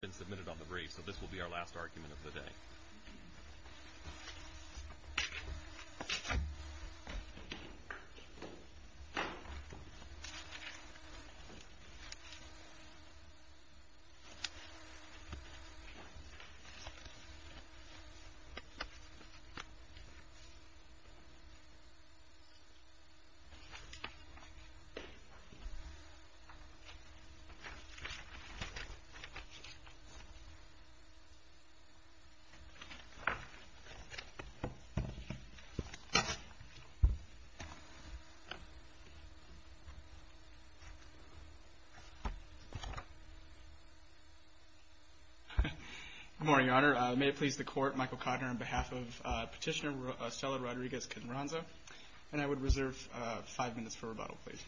been submitted on the brief, so this will be our last argument of the day. Good morning, Your Honor. May it please the Court, Michael Cotner on behalf of Petitioner Estela Rodriguez-Quinranza, and I would reserve five minutes for rebuttal, please.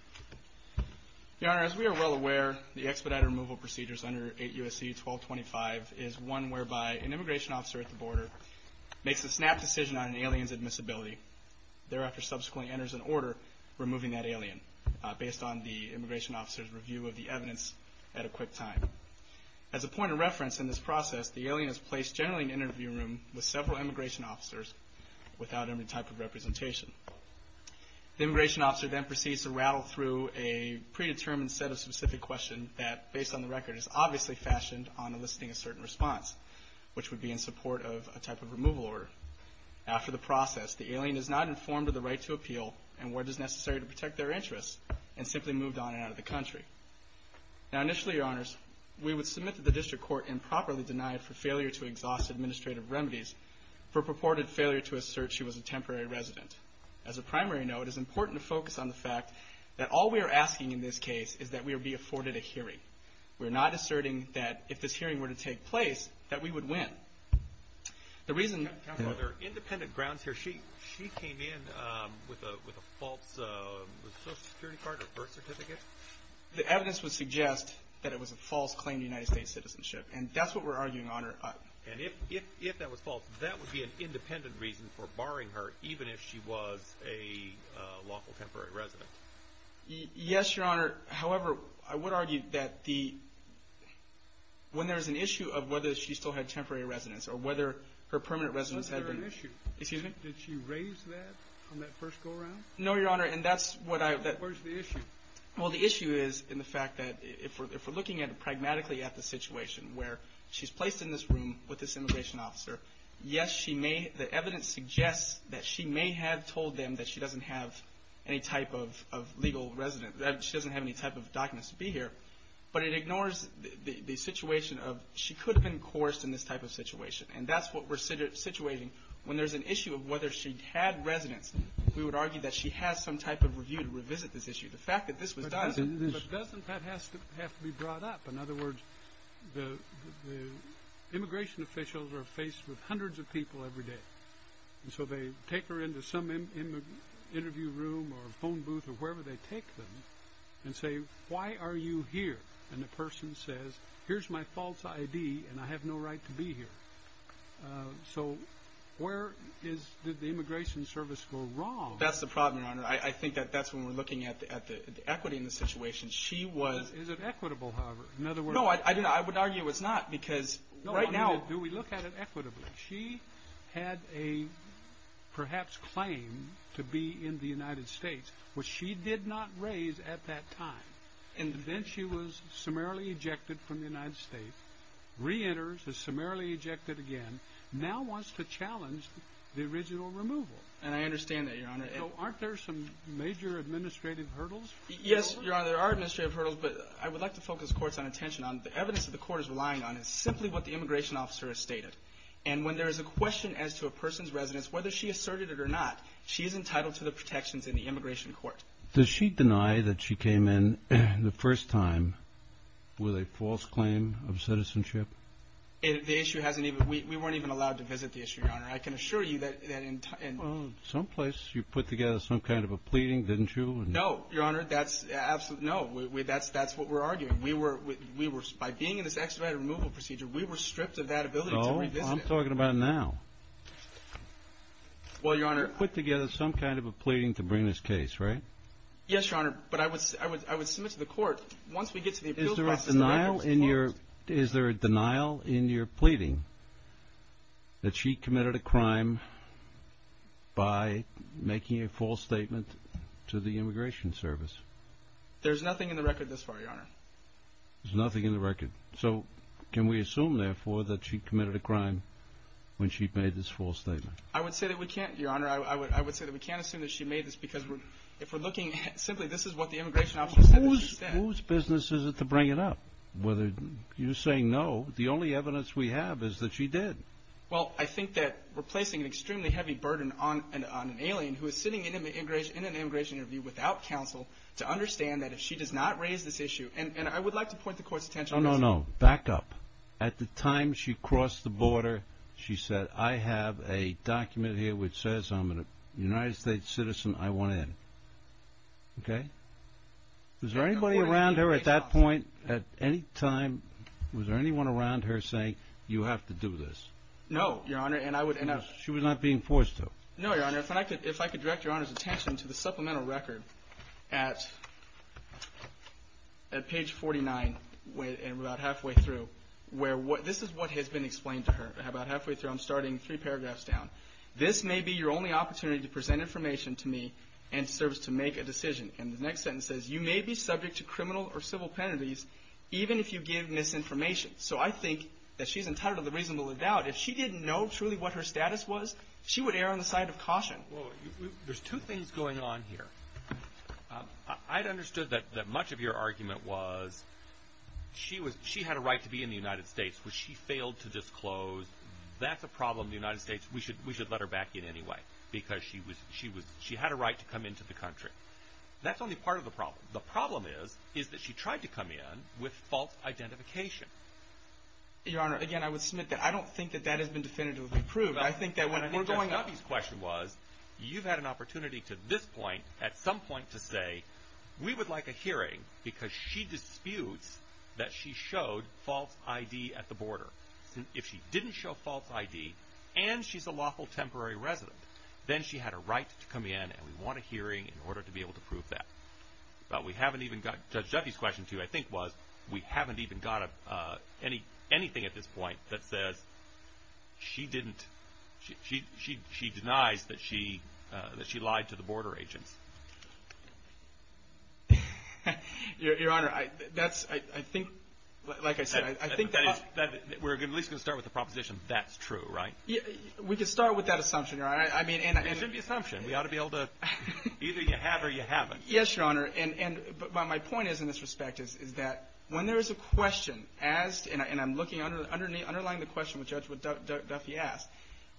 Your Honor, as we are well aware, the expedited removal procedures under 8 U.S.C. 1225 is one whereby an immigration officer at the border makes a snap decision on an alien's admissibility, thereafter subsequently enters an order removing that alien, based on the immigration officer's review of the evidence at a quick time. As a point of reference in this process, the alien is placed generally in an interview room with several immigration officers without any type of representation. The immigration officer then proceeds to rattle through a predetermined set of specific questions that, based on the record, is obviously fashioned on enlisting a certain response, which would be in support of a type of removal order. After the process, the alien is not informed of the right to appeal and whether it is necessary to protect their interests, and simply moved on and out of the country. Now, initially, Your Honors, we would submit that the District Court improperly denied for failure to exhaust administrative remedies for purported failure to assert she was a in this case is that we would be afforded a hearing. We're not asserting that if this hearing were to take place, that we would win. The reason... Counsel, are there independent grounds here? She came in with a false Social Security card or birth certificate? The evidence would suggest that it was a false claim to United States citizenship, and that's what we're arguing, Your Honor. And if that was false, that would be an independent reason for barring her, even if she was a lawful temporary resident. Yes, Your Honor. However, I would argue that when there's an issue of whether she still had temporary residence or whether her permanent residence had been... Was there an issue? Excuse me? Did she raise that on that first go-around? No, Your Honor, and that's what I... Where's the issue? Well, the issue is in the fact that if we're looking at it pragmatically at the situation where she's placed in this room with this immigration officer, yes, she may... We told them that she doesn't have any type of legal residence, that she doesn't have any type of documents to be here, but it ignores the situation of she could have been coerced in this type of situation, and that's what we're situating. When there's an issue of whether she had residence, we would argue that she has some type of review to revisit this issue. The fact that this was done... But doesn't that have to be brought up? In other words, the immigration officials are in the interview room or phone booth or wherever they take them and say, why are you here? And the person says, here's my false ID and I have no right to be here. So where is... Did the immigration service go wrong? That's the problem, Your Honor. I think that that's when we're looking at the equity in the situation. She was... Is it equitable, however? In other words... No, I would argue it's not because right now... to be in the United States, which she did not raise at that time. And then she was summarily ejected from the United States, reenters, is summarily ejected again, now wants to challenge the original removal. And I understand that, Your Honor. So aren't there some major administrative hurdles? Yes, Your Honor, there are administrative hurdles, but I would like to focus the court's attention on the evidence that the court is relying on is simply what the immigration officer has stated. And when there is a question as to a person's residence, whether she asserted or not, she is entitled to the protections in the immigration court. Does she deny that she came in the first time with a false claim of citizenship? The issue hasn't even... We weren't even allowed to visit the issue, Your Honor. I can assure you that... Well, someplace you put together some kind of a pleading, didn't you? No, Your Honor, that's absolutely... No, that's what we're arguing. We were... By being in this expedited removal procedure, we were stripped of that ability to revisit it. No, I'm talking about now. Well, Your Honor... You put together some kind of a pleading to bring this case, right? Yes, Your Honor, but I would submit to the court, once we get to the appeal process... Is there a denial in your... Is there a denial in your pleading that she committed a crime by making a false statement to the immigration service? There's nothing in the record thus far, Your Honor. There's nothing in the record. So can we assume, therefore, that she committed a crime when she made this false statement? I would say that we can't, Your Honor. I would say that we can't assume that she made this because we're... If we're looking at... Simply, this is what the immigration officer said that she said. Whose business is it to bring it up? Whether... You're saying no. The only evidence we have is that she did. Well, I think that we're placing an extremely heavy burden on an alien who is sitting in an immigration interview without counsel to understand that if she does not raise this issue... And I would like to point the court's attention... Oh, no. Back up. At the time she crossed the border, she said, I have a document here which says I'm a United States citizen. I want in. Okay? Is there anybody around her at that point at any time... Was there anyone around her saying, you have to do this? No, Your Honor. And I would... She was not being forced to. No, Your Honor. If I could direct Your Honor's attention to the supplemental record at page 49, about halfway through, where... This is what has been explained to her about halfway through. I'm starting three paragraphs down. This may be your only opportunity to present information to me and serves to make a decision. And the next sentence says, you may be subject to criminal or civil penalties even if you give misinformation. So I think that she's entitled to the reasonable doubt. If she didn't know truly what her status was, she would err on the side of caution. There's two things going on here. I'd understood that much of your argument was, she had a right to be in the United States, which she failed to disclose. That's a problem in the United States. We should let her back in anyway because she had a right to come into the country. That's only part of the problem. The problem is, is that she tried to come in with false identification. Your Honor, again, I would submit that I don't think that that has been definitively proved. Judge Duffy's question was, you've had an opportunity to this point, at some point to say, we would like a hearing because she disputes that she showed false ID at the border. If she didn't show false ID and she's a lawful temporary resident, then she had a right to come in and we want a hearing in order to be able to prove that. But we haven't even got... Judge Duffy's question, too, I think was, we haven't even got anything at this point that says she didn't, she denies that she lied to the border agents. Your Honor, that's, I think, like I said, I think... We're at least going to start with the proposition that's true, right? We can start with that assumption. It should be an assumption. We ought to be able to, either you have or you haven't. Yes, Your Honor. But my point is, in this respect, is that when there is a question asked, and I'm looking, underlining the question which Judge Duffy asked,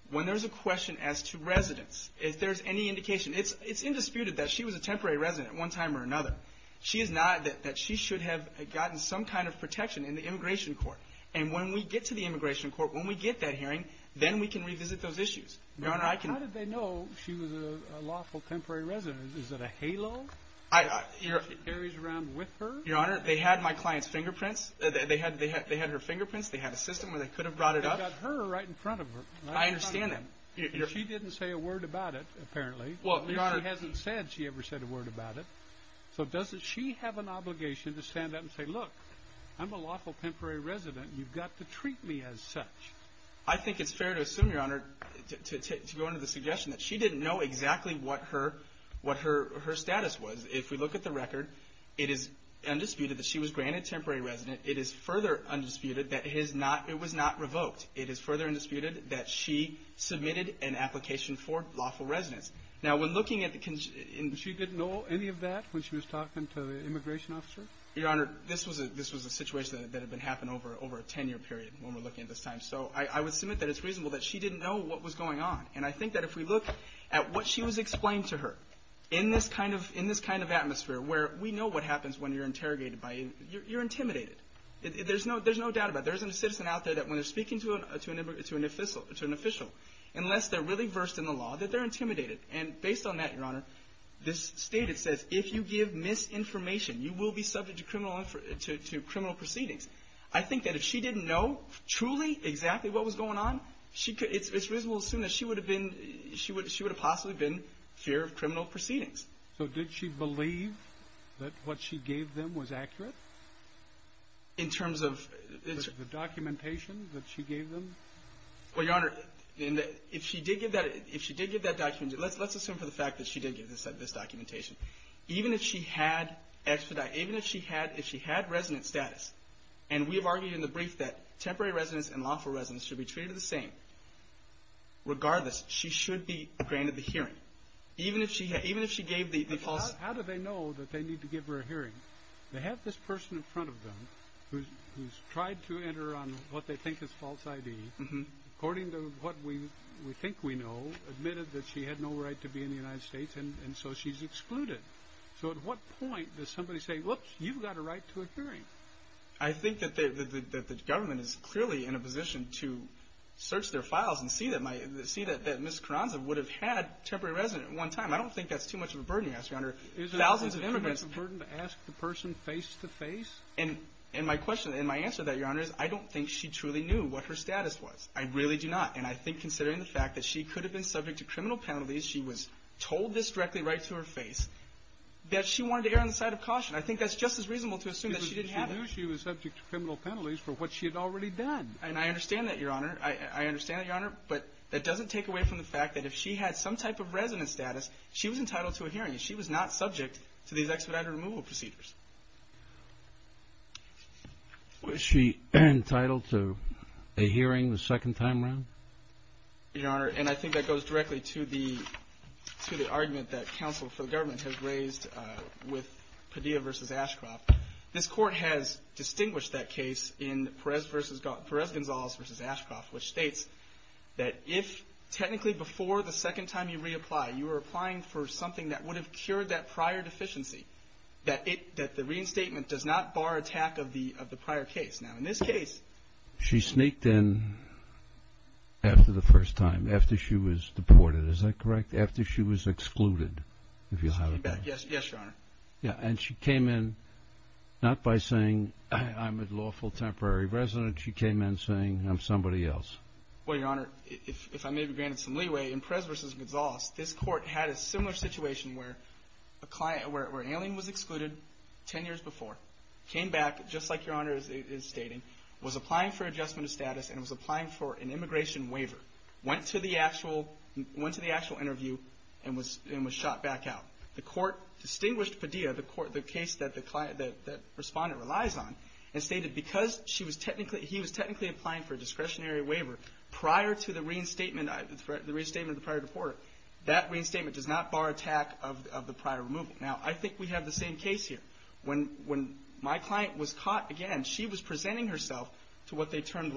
when there's a question asked to residents, if there's any indication, it's indisputed that she was a temporary resident at one time or another. She is not, that she should have gotten some kind of protection in the immigration court. And when we get to the immigration court, when we get that hearing, then we can revisit those issues. Your Honor, I can... How did they know she was a lawful temporary resident? Is it a halo? Your Honor... That carries around with her? Your Honor, they had my client's fingerprints. They had her fingerprints. They had a system where they could have brought it up. You've got her right in front of her. I understand that. She didn't say a word about it, apparently. Well, Your Honor... She hasn't said she ever said a word about it. So doesn't she have an obligation to stand up and say, look, I'm a lawful temporary resident. You've got to treat me as such. I think it's fair to assume, Your Honor, to go under the suggestion that she didn't know exactly what her status was. If we look at the record, it is undisputed that she was granted temporary resident. It is further undisputed that it was not revoked. It is further undisputed that she submitted an application for lawful residence. Now, when looking at the... She didn't know any of that when she was talking to the immigration officer? Your Honor, this was a situation that had happened over a 10-year period when we're looking at this time. So I would submit that it's reasonable that she didn't know what was going on. And I think that if we look at what she was explaining to her in this kind of atmosphere, where we know what happens when you're interrogated by... You're intimidated. There's no doubt about it. There isn't a citizen out there that, when they're speaking to an official, unless they're really versed in the law, that they're intimidated. And based on that, Your Honor, this statement says, if you give misinformation, you will be subject to criminal proceedings. I think that if she didn't know truly exactly what was going on, it's reasonable to assume that she would have possibly been fear of criminal proceedings. So did she believe that what she gave them was accurate? In terms of... The documentation that she gave them? Well, Your Honor, if she did give that documentation... Let's assume for the fact that she did give this documentation. Even if she had expedited... Even if she had resident status, and we have argued in the brief that temporary residence and lawful residence should be treated the same. Regardless, she should be granted the hearing. Even if she gave the false... How do they know that they need to give her a hearing? They have this person in front of them who's tried to enter on what they think is false ID. According to what we think we know, admitted that she had no right to be in the United States, and so she's excluded. So at what point does somebody say, look, you've got a right to a hearing? I think that the government is clearly in a position to search their files and see that Ms. Carranza would have had temporary residence at one time. I don't think that's too much of a burden, Your Honor. Is it too much of a burden to ask the person face-to-face? And my answer to that, Your Honor, is I don't think she truly knew what her status was. I really do not. And I think considering the fact that she could have been subject to criminal penalties, she was told this directly right to her face, that she wanted to err on the side of caution. I think that's just as reasonable to assume that she didn't have it. Because she knew she was subject to criminal penalties for what she had already done. And I understand that, Your Honor. I understand that, Your Honor. But that doesn't take away from the fact that if she had some type of residence status, she was entitled to a hearing. She was not subject to these expedited removal procedures. Was she entitled to a hearing the second time around? The case that the plaintiff raised with Padilla v. Ashcroft, this Court has distinguished that case in Perez-Gonzalez v. Ashcroft, which states that if technically before the second time you reapply, you are applying for something that would have cured that prior deficiency, that the reinstatement does not bar attack of the prior case. Now, in this case, she sneaked in after the first time, after she was deported. Is that correct? After she was excluded, if you'll have it that way. Yes, Your Honor. And she came in not by saying, I'm a lawful temporary resident. She came in saying, I'm somebody else. Well, Your Honor, if I may be granted some leeway, in Perez v. Gonzalez, this Court had a similar situation where an alien was excluded ten years before, came back, just like Your Honor is stating, was applying for adjustment of status and was applying for an immigration waiver, went to the actual interview and was shot back out. The Court distinguished Padilla, the case that the respondent relies on, and stated because he was technically applying for a discretionary waiver prior to the reinstatement of the prior deporter, that reinstatement does not bar attack of the prior removal. Now, I think we have the same case here. When my client was caught again, she was presenting herself to what they termed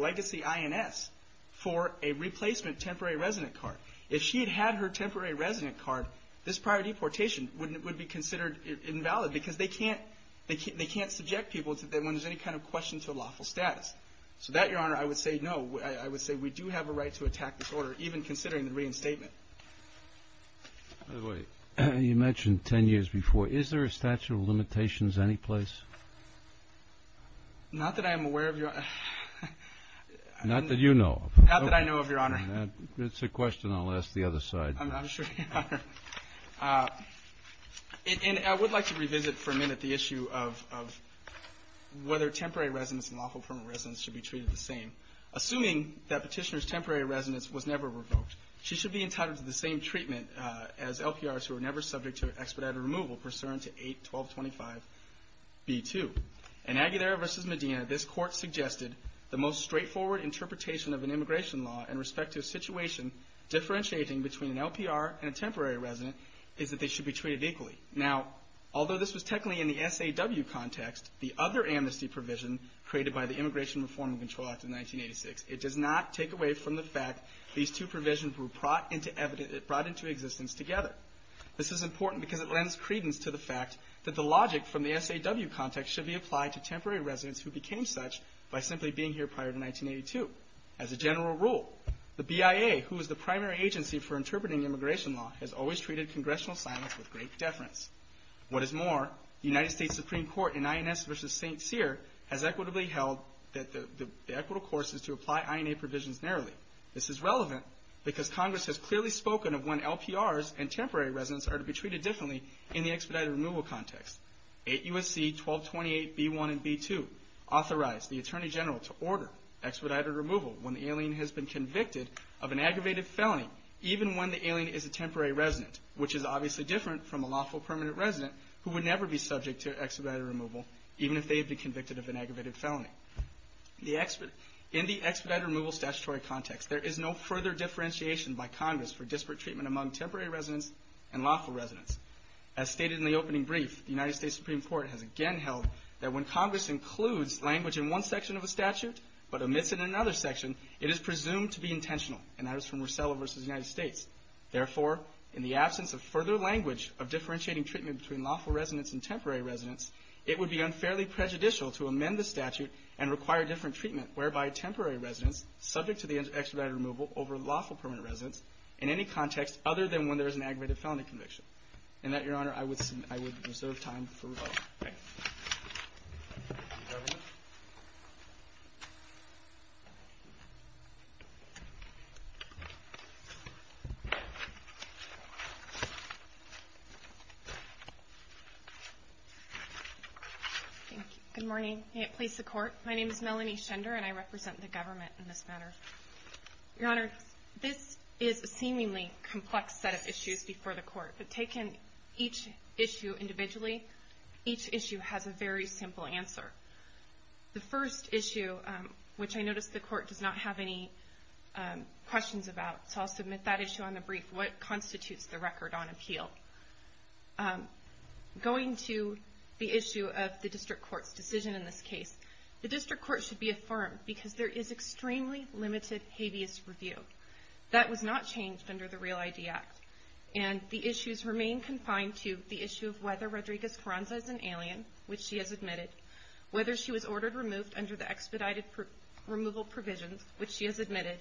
for a replacement temporary resident card. If she had had her temporary resident card, this prior deportation would be considered invalid because they can't subject people when there's any kind of question to lawful status. So that, Your Honor, I would say no. I would say we do have a right to attack this order, even considering the reinstatement. By the way, you mentioned ten years before. Is there a statute of limitations any place? Not that I am aware of, Your Honor. Not that you know of. Not that I know of, Your Honor. That's a question I'll ask the other side. I'm sure you are. And I would like to revisit for a minute the issue of whether temporary residents and lawful permanent residents should be treated the same. Assuming that petitioner's temporary residence was never revoked, she should be entitled to the same treatment as LPRs who were never subject to expedited removal pursuant to 8.1225.b.2. In Aguilera v. Medina, this court suggested the most straightforward interpretation of an immigration law in respect to a situation differentiating between an LPR and a temporary resident is that they should be treated equally. Now, although this was technically in the SAW context, the other amnesty provision created by the Immigration Reform and Control Act of 1986, it does not take away from the fact these two provisions were brought into existence together. This is important because it lends credence to the fact that the logic from the SAW context should be applied to temporary residents who became such by simply being here prior to 1982. As a general rule, the BIA, who is the primary agency for interpreting immigration law, has always treated congressional silence with great deference. What is more, the United States Supreme Court in INS v. St. Cyr has equitably held that the equitable course is to apply INA provisions narrowly. This is relevant because Congress has clearly spoken of when LPRs and temporary residents are to be treated differently in the expedited removal context. 8 U.S.C. 1228b1 and b2 authorized the Attorney General to order expedited removal when the alien has been convicted of an aggravated felony, even when the alien is a temporary resident, which is obviously different from a lawful permanent resident who would never be subject to expedited removal, even if they had been convicted of an aggravated felony. In the expedited removal statutory context, there is no further differentiation by Congress for disparate treatment among temporary residents and lawful residents. As stated in the opening brief, the United States Supreme Court has again held that when Congress includes language in one section of a statute but omits it in another section, it is presumed to be intentional. And that is from Rosella v. United States. Therefore, in the absence of further language of differentiating treatment between lawful residents and temporary residents, it would be unfairly prejudicial to amend the statute and require different treatment, whereby temporary residents, subject to the expedited removal over lawful permanent residents, in any context other than when there is an aggravated felony conviction. And with that, Your Honor, I would reserve time for rebuttal. Thank you. Good morning. May it please the Court. My name is Melanie Schender and I represent the government in this matter. Your Honor, this is a seemingly complex set of issues before the Court, but taken each issue individually, each issue has a very simple answer. The first issue, which I notice the Court does not have any questions about, so I'll submit that issue on the brief, what constitutes the record on appeal? Going to the issue of the District Court's decision in this case, the District Court should be affirmed because there is extremely limited habeas review. That was not changed under the REAL-ID Act, and the issues remain confined to the issue of whether Rodriguez-Ferranza is an alien, which she has admitted, whether she was ordered removed under the expedited removal provisions, which she has admitted,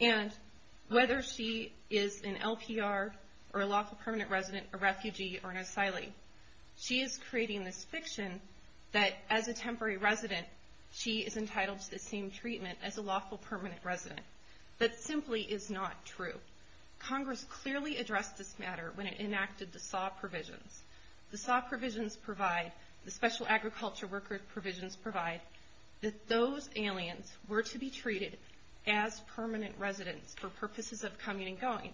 and whether she is an LPR or a lawful permanent resident, a refugee, or an asylee. She is creating this fiction that as a temporary resident, she is entitled to the same treatment as a lawful permanent resident. That simply is not true. Congress clearly addressed this matter when it enacted the SAW provisions. The SAW provisions provide, the special agriculture worker provisions provide, that those aliens were to be treated as permanent residents for purposes of coming and going.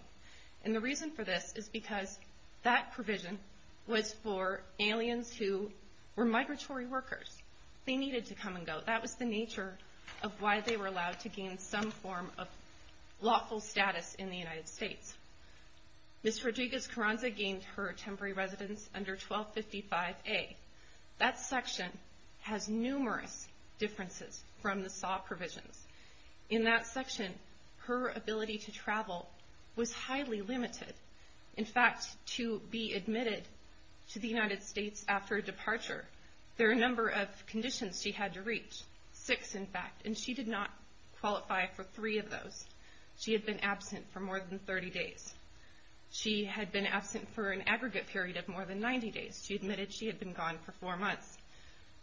And the reason for this is because that provision was for aliens who were migratory workers. They needed to come and go. That was the nature of why they were allowed to gain some form of lawful status in the United States. Ms. Rodriguez-Ferranza gained her temporary residence under 1255A. That section has numerous differences from the SAW provisions. In that section, her ability to travel was highly limited. In fact, to be admitted to the United States after departure, there are a number of conditions she had to reach, six in fact, and she did not qualify for three of those. She had been absent for more than 30 days. She had been absent for an aggregate period of more than 90 days. She admitted she had been gone for four months.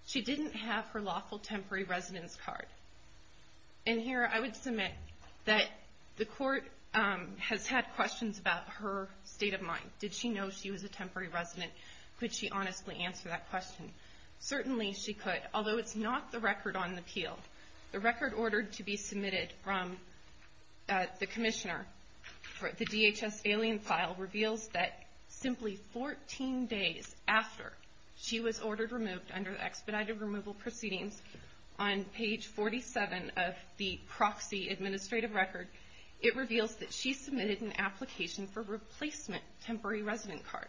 She didn't have her lawful temporary residence card. And here I would submit that the court has had questions about her state of mind. Did she know she was a temporary resident? Could she honestly answer that question? Certainly she could, although it's not the record on the appeal. The record ordered to be submitted from the commissioner for the DHS alien file reveals that simply 14 days after she was ordered removed under the expedited removal proceedings on page 47 of the proxy administrative record, it reveals that she submitted an application for replacement temporary resident card.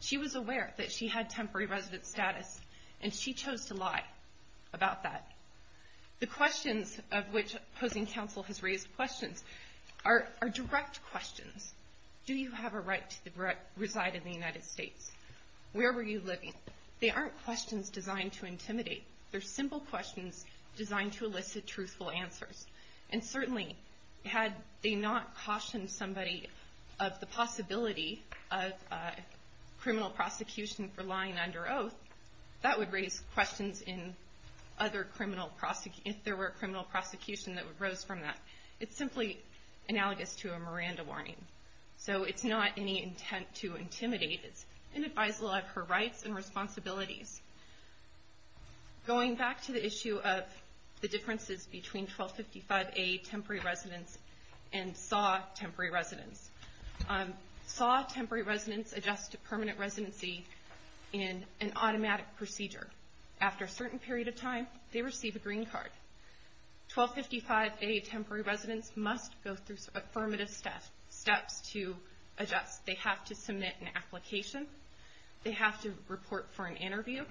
She was aware that she had temporary resident status, and she chose to lie about that. The questions of which opposing counsel has raised questions are direct questions. Do you have a right to reside in the United States? Where were you living? They aren't questions designed to intimidate. They're simple questions designed to elicit truthful answers. And certainly had they not cautioned somebody of the possibility of criminal prosecution for lying under oath, that would raise questions if there were a criminal prosecution that would rose from that. It's simply analogous to a Miranda warning. So it's not any intent to intimidate. It's an advisory of her rights and responsibilities. Going back to the issue of the differences between 1255A temporary residence and SAW temporary residence. SAW temporary residence adjusts to permanent residency in an automatic procedure. After a certain period of time, they receive a green card. 1255A temporary residence must go through affirmative steps to adjust. They have to submit an application. They have to report for an interview.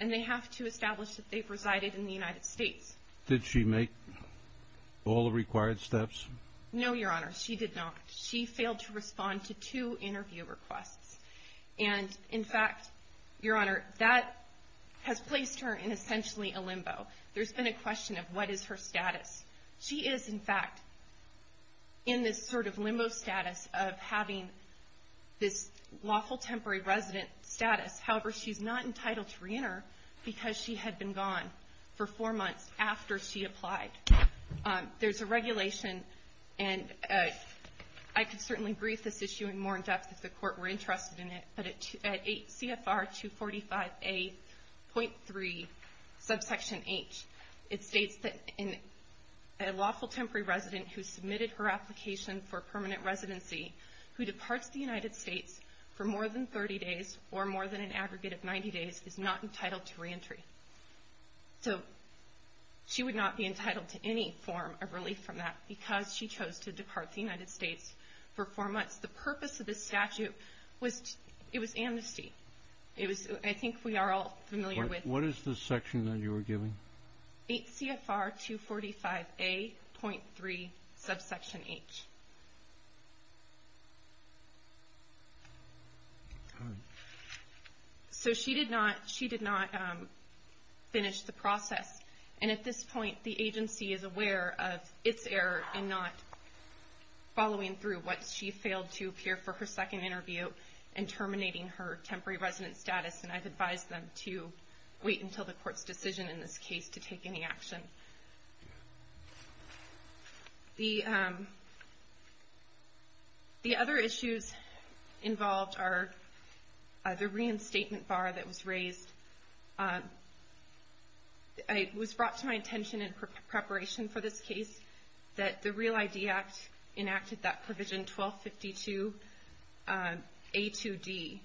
And they have to establish that they've resided in the United States. Did she make all the required steps? No, Your Honor. She did not. She failed to respond to two interview requests. And, in fact, Your Honor, that has placed her in essentially a limbo. There's been a question of what is her status. She is, in fact, in this sort of limbo status of having this lawful temporary resident status. However, she's not entitled to reenter because she had been gone for four months after she applied. There's a regulation, and I could certainly brief this issue in more depth if the Court were interested in it, but at CFR 245A.3, subsection H, it states that a lawful temporary resident who submitted her application for permanent residency who departs the United States for more than 30 days or more than an aggregate of 90 days is not entitled to reentry. So she would not be entitled to any form of relief from that because she chose to depart the United States for four months. The purpose of this statute was amnesty. I think we are all familiar with it. What is the section that you were giving? 8 CFR 245A.3, subsection H. So she did not finish the process, and at this point, the agency is aware of its error in not following through. She failed to appear for her second interview and terminating her temporary resident status, and I've advised them to wait until the Court's decision in this case to take any action. The other issues involved are the reinstatement bar that was raised. It was brought to my attention in preparation for this case that the Real ID Act enacted that provision 1252A2D,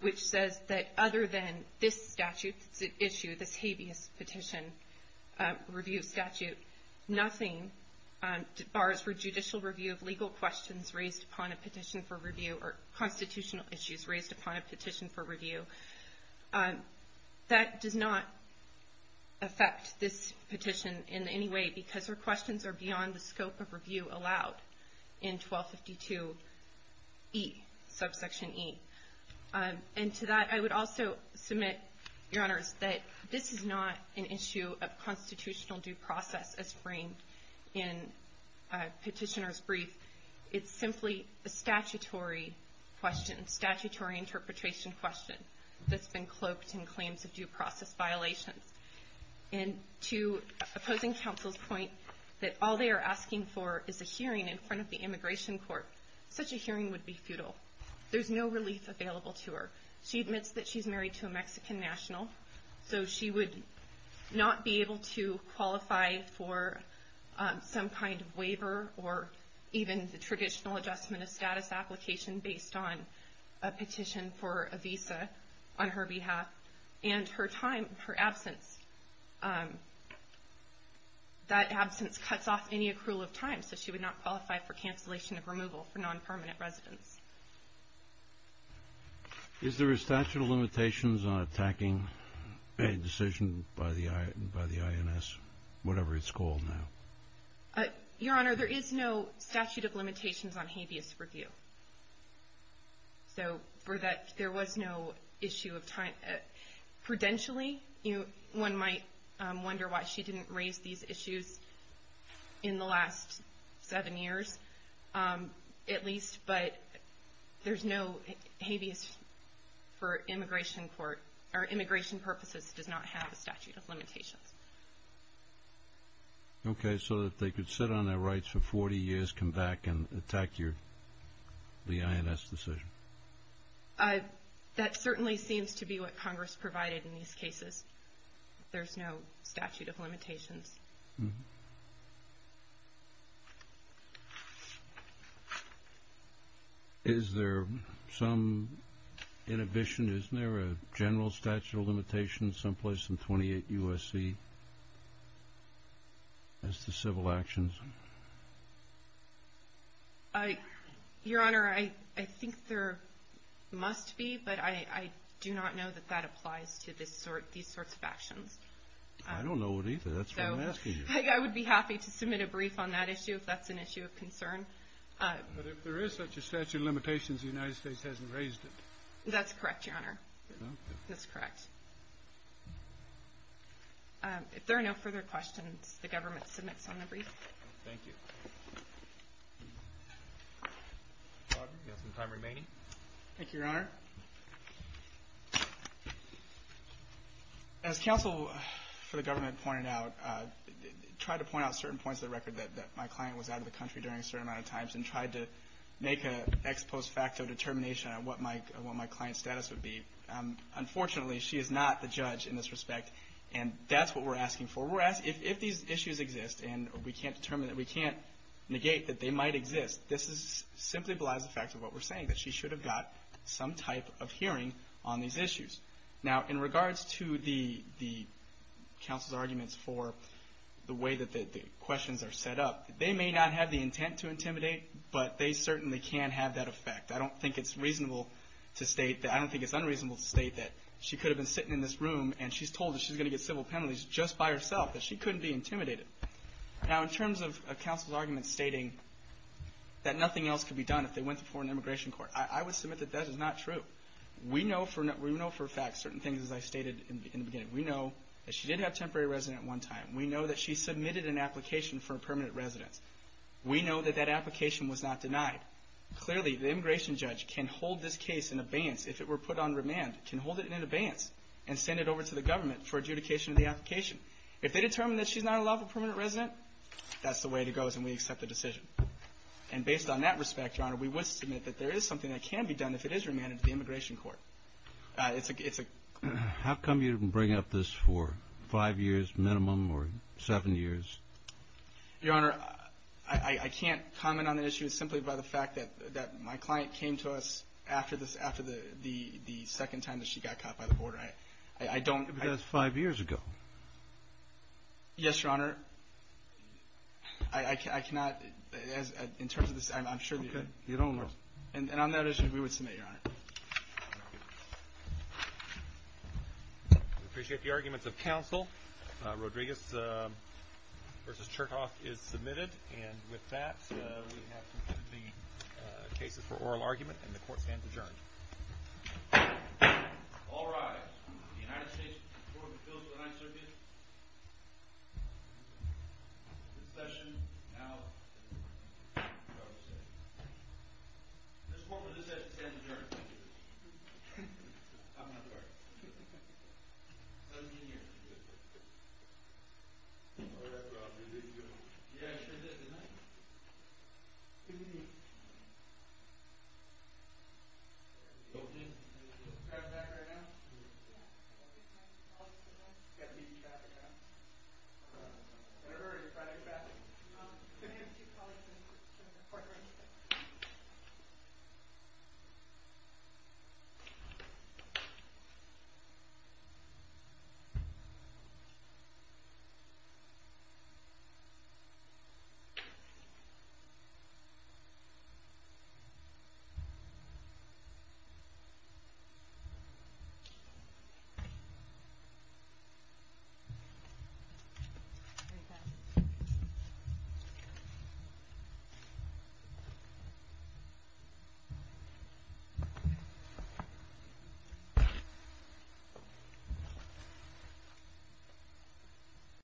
which says that other than this statute issue, this habeas petition review statute, nothing bars for judicial review of legal questions raised upon a petition for review or constitutional issues raised upon a petition for review. That does not affect this petition in any way because her questions are beyond the scope of review allowed in 1252E, subsection E. And to that, I would also submit, Your Honors, that this is not an issue of constitutional due process as framed in Petitioner's Brief. It's simply a statutory question, statutory interpretation question, that's been cloaked in claims of due process violations. And to opposing counsel's point that all they are asking for is a hearing in front of the Immigration Court, such a hearing would be futile. There's no relief available to her. She admits that she's married to a Mexican national, so she would not be able to qualify for some kind of waiver or even the traditional adjustment of status application based on a petition for a visa on her behalf. And her time, her absence, that absence cuts off any accrual of time, so she would not qualify for cancellation of removal for non-permanent residents. Is there a statute of limitations on attacking a decision by the INS, whatever it's called now? Your Honor, there is no statute of limitations on habeas review. So for that, there was no issue of time. Prudentially, one might wonder why she didn't raise these issues in the last seven years at least, but there's no habeas for Immigration Court or immigration purposes does not have a statute of limitations. Okay, so if they could sit on their rights for 40 years, come back and attack the INS decision. That certainly seems to be what Congress provided in these cases. There's no statute of limitations. Is there some inhibition? Isn't there a general statute of limitations someplace in 28 U.S.C. as to civil actions? Your Honor, I think there must be, but I do not know that that applies to these sorts of actions. I don't know it either. That's why I'm asking you. I would be happy to submit a brief on that issue if that's an issue of concern. But if there is such a statute of limitations, the United States hasn't raised it. That's correct, Your Honor. Okay. That's correct. If there are no further questions, the government submits on the brief. Thank you. We have some time remaining. Thank you, Your Honor. As counsel for the government pointed out, tried to point out certain points of the record that my client was out of the country during a certain amount of times and tried to make an ex post facto determination on what my client's status would be. Unfortunately, she is not the judge in this respect. And that's what we're asking for. If these issues exist and we can't negate that they might exist, this simply belies the fact of what we're saying, that she should have got some type of hearing on these issues. Now, in regards to the counsel's arguments for the way that the questions are set up, they may not have the intent to intimidate, but they certainly can have that effect. I don't think it's unreasonable to state that she could have been sitting in this room and she's told that she's going to get civil penalties just by herself, that she couldn't be intimidated. Now, in terms of counsel's arguments stating that nothing else could be done if they went to foreign immigration court, I would submit that that is not true. We know for a fact certain things, as I stated in the beginning. We know that she did have temporary residence at one time. We know that she submitted an application for a permanent residence. We know that that application was not denied. Clearly, the immigration judge can hold this case in abeyance if it were put on remand, can hold it in abeyance and send it over to the government for adjudication of the application. If they determine that she's not allowed a permanent residence, that's the way it goes and we accept the decision. And based on that respect, Your Honor, we would submit that there is something that can be done if it is remanded to the immigration court. How come you didn't bring up this for five years minimum or seven years? Your Honor, I can't comment on the issue simply by the fact that my client came to us after the second time that she got caught by the border. That was five years ago. Yes, Your Honor. I cannot, in terms of this, I'm sure you could. You don't know. And on that issue, we would submit, Your Honor. Thank you. We appreciate the arguments of counsel. Rodriguez v. Chertoff is submitted. And with that, we have concluded the cases for oral argument and the court stands adjourned. All rise. The United States Court of Appeals for the Ninth Circuit. The session is now closed. This court was just said to stand adjourned. I'm not part of it. It doesn't mean you're not part of it. All right. Well, I'll do this, Your Honor. Yes, you did. Good night. Good evening. Good evening. Good evening. Thank you.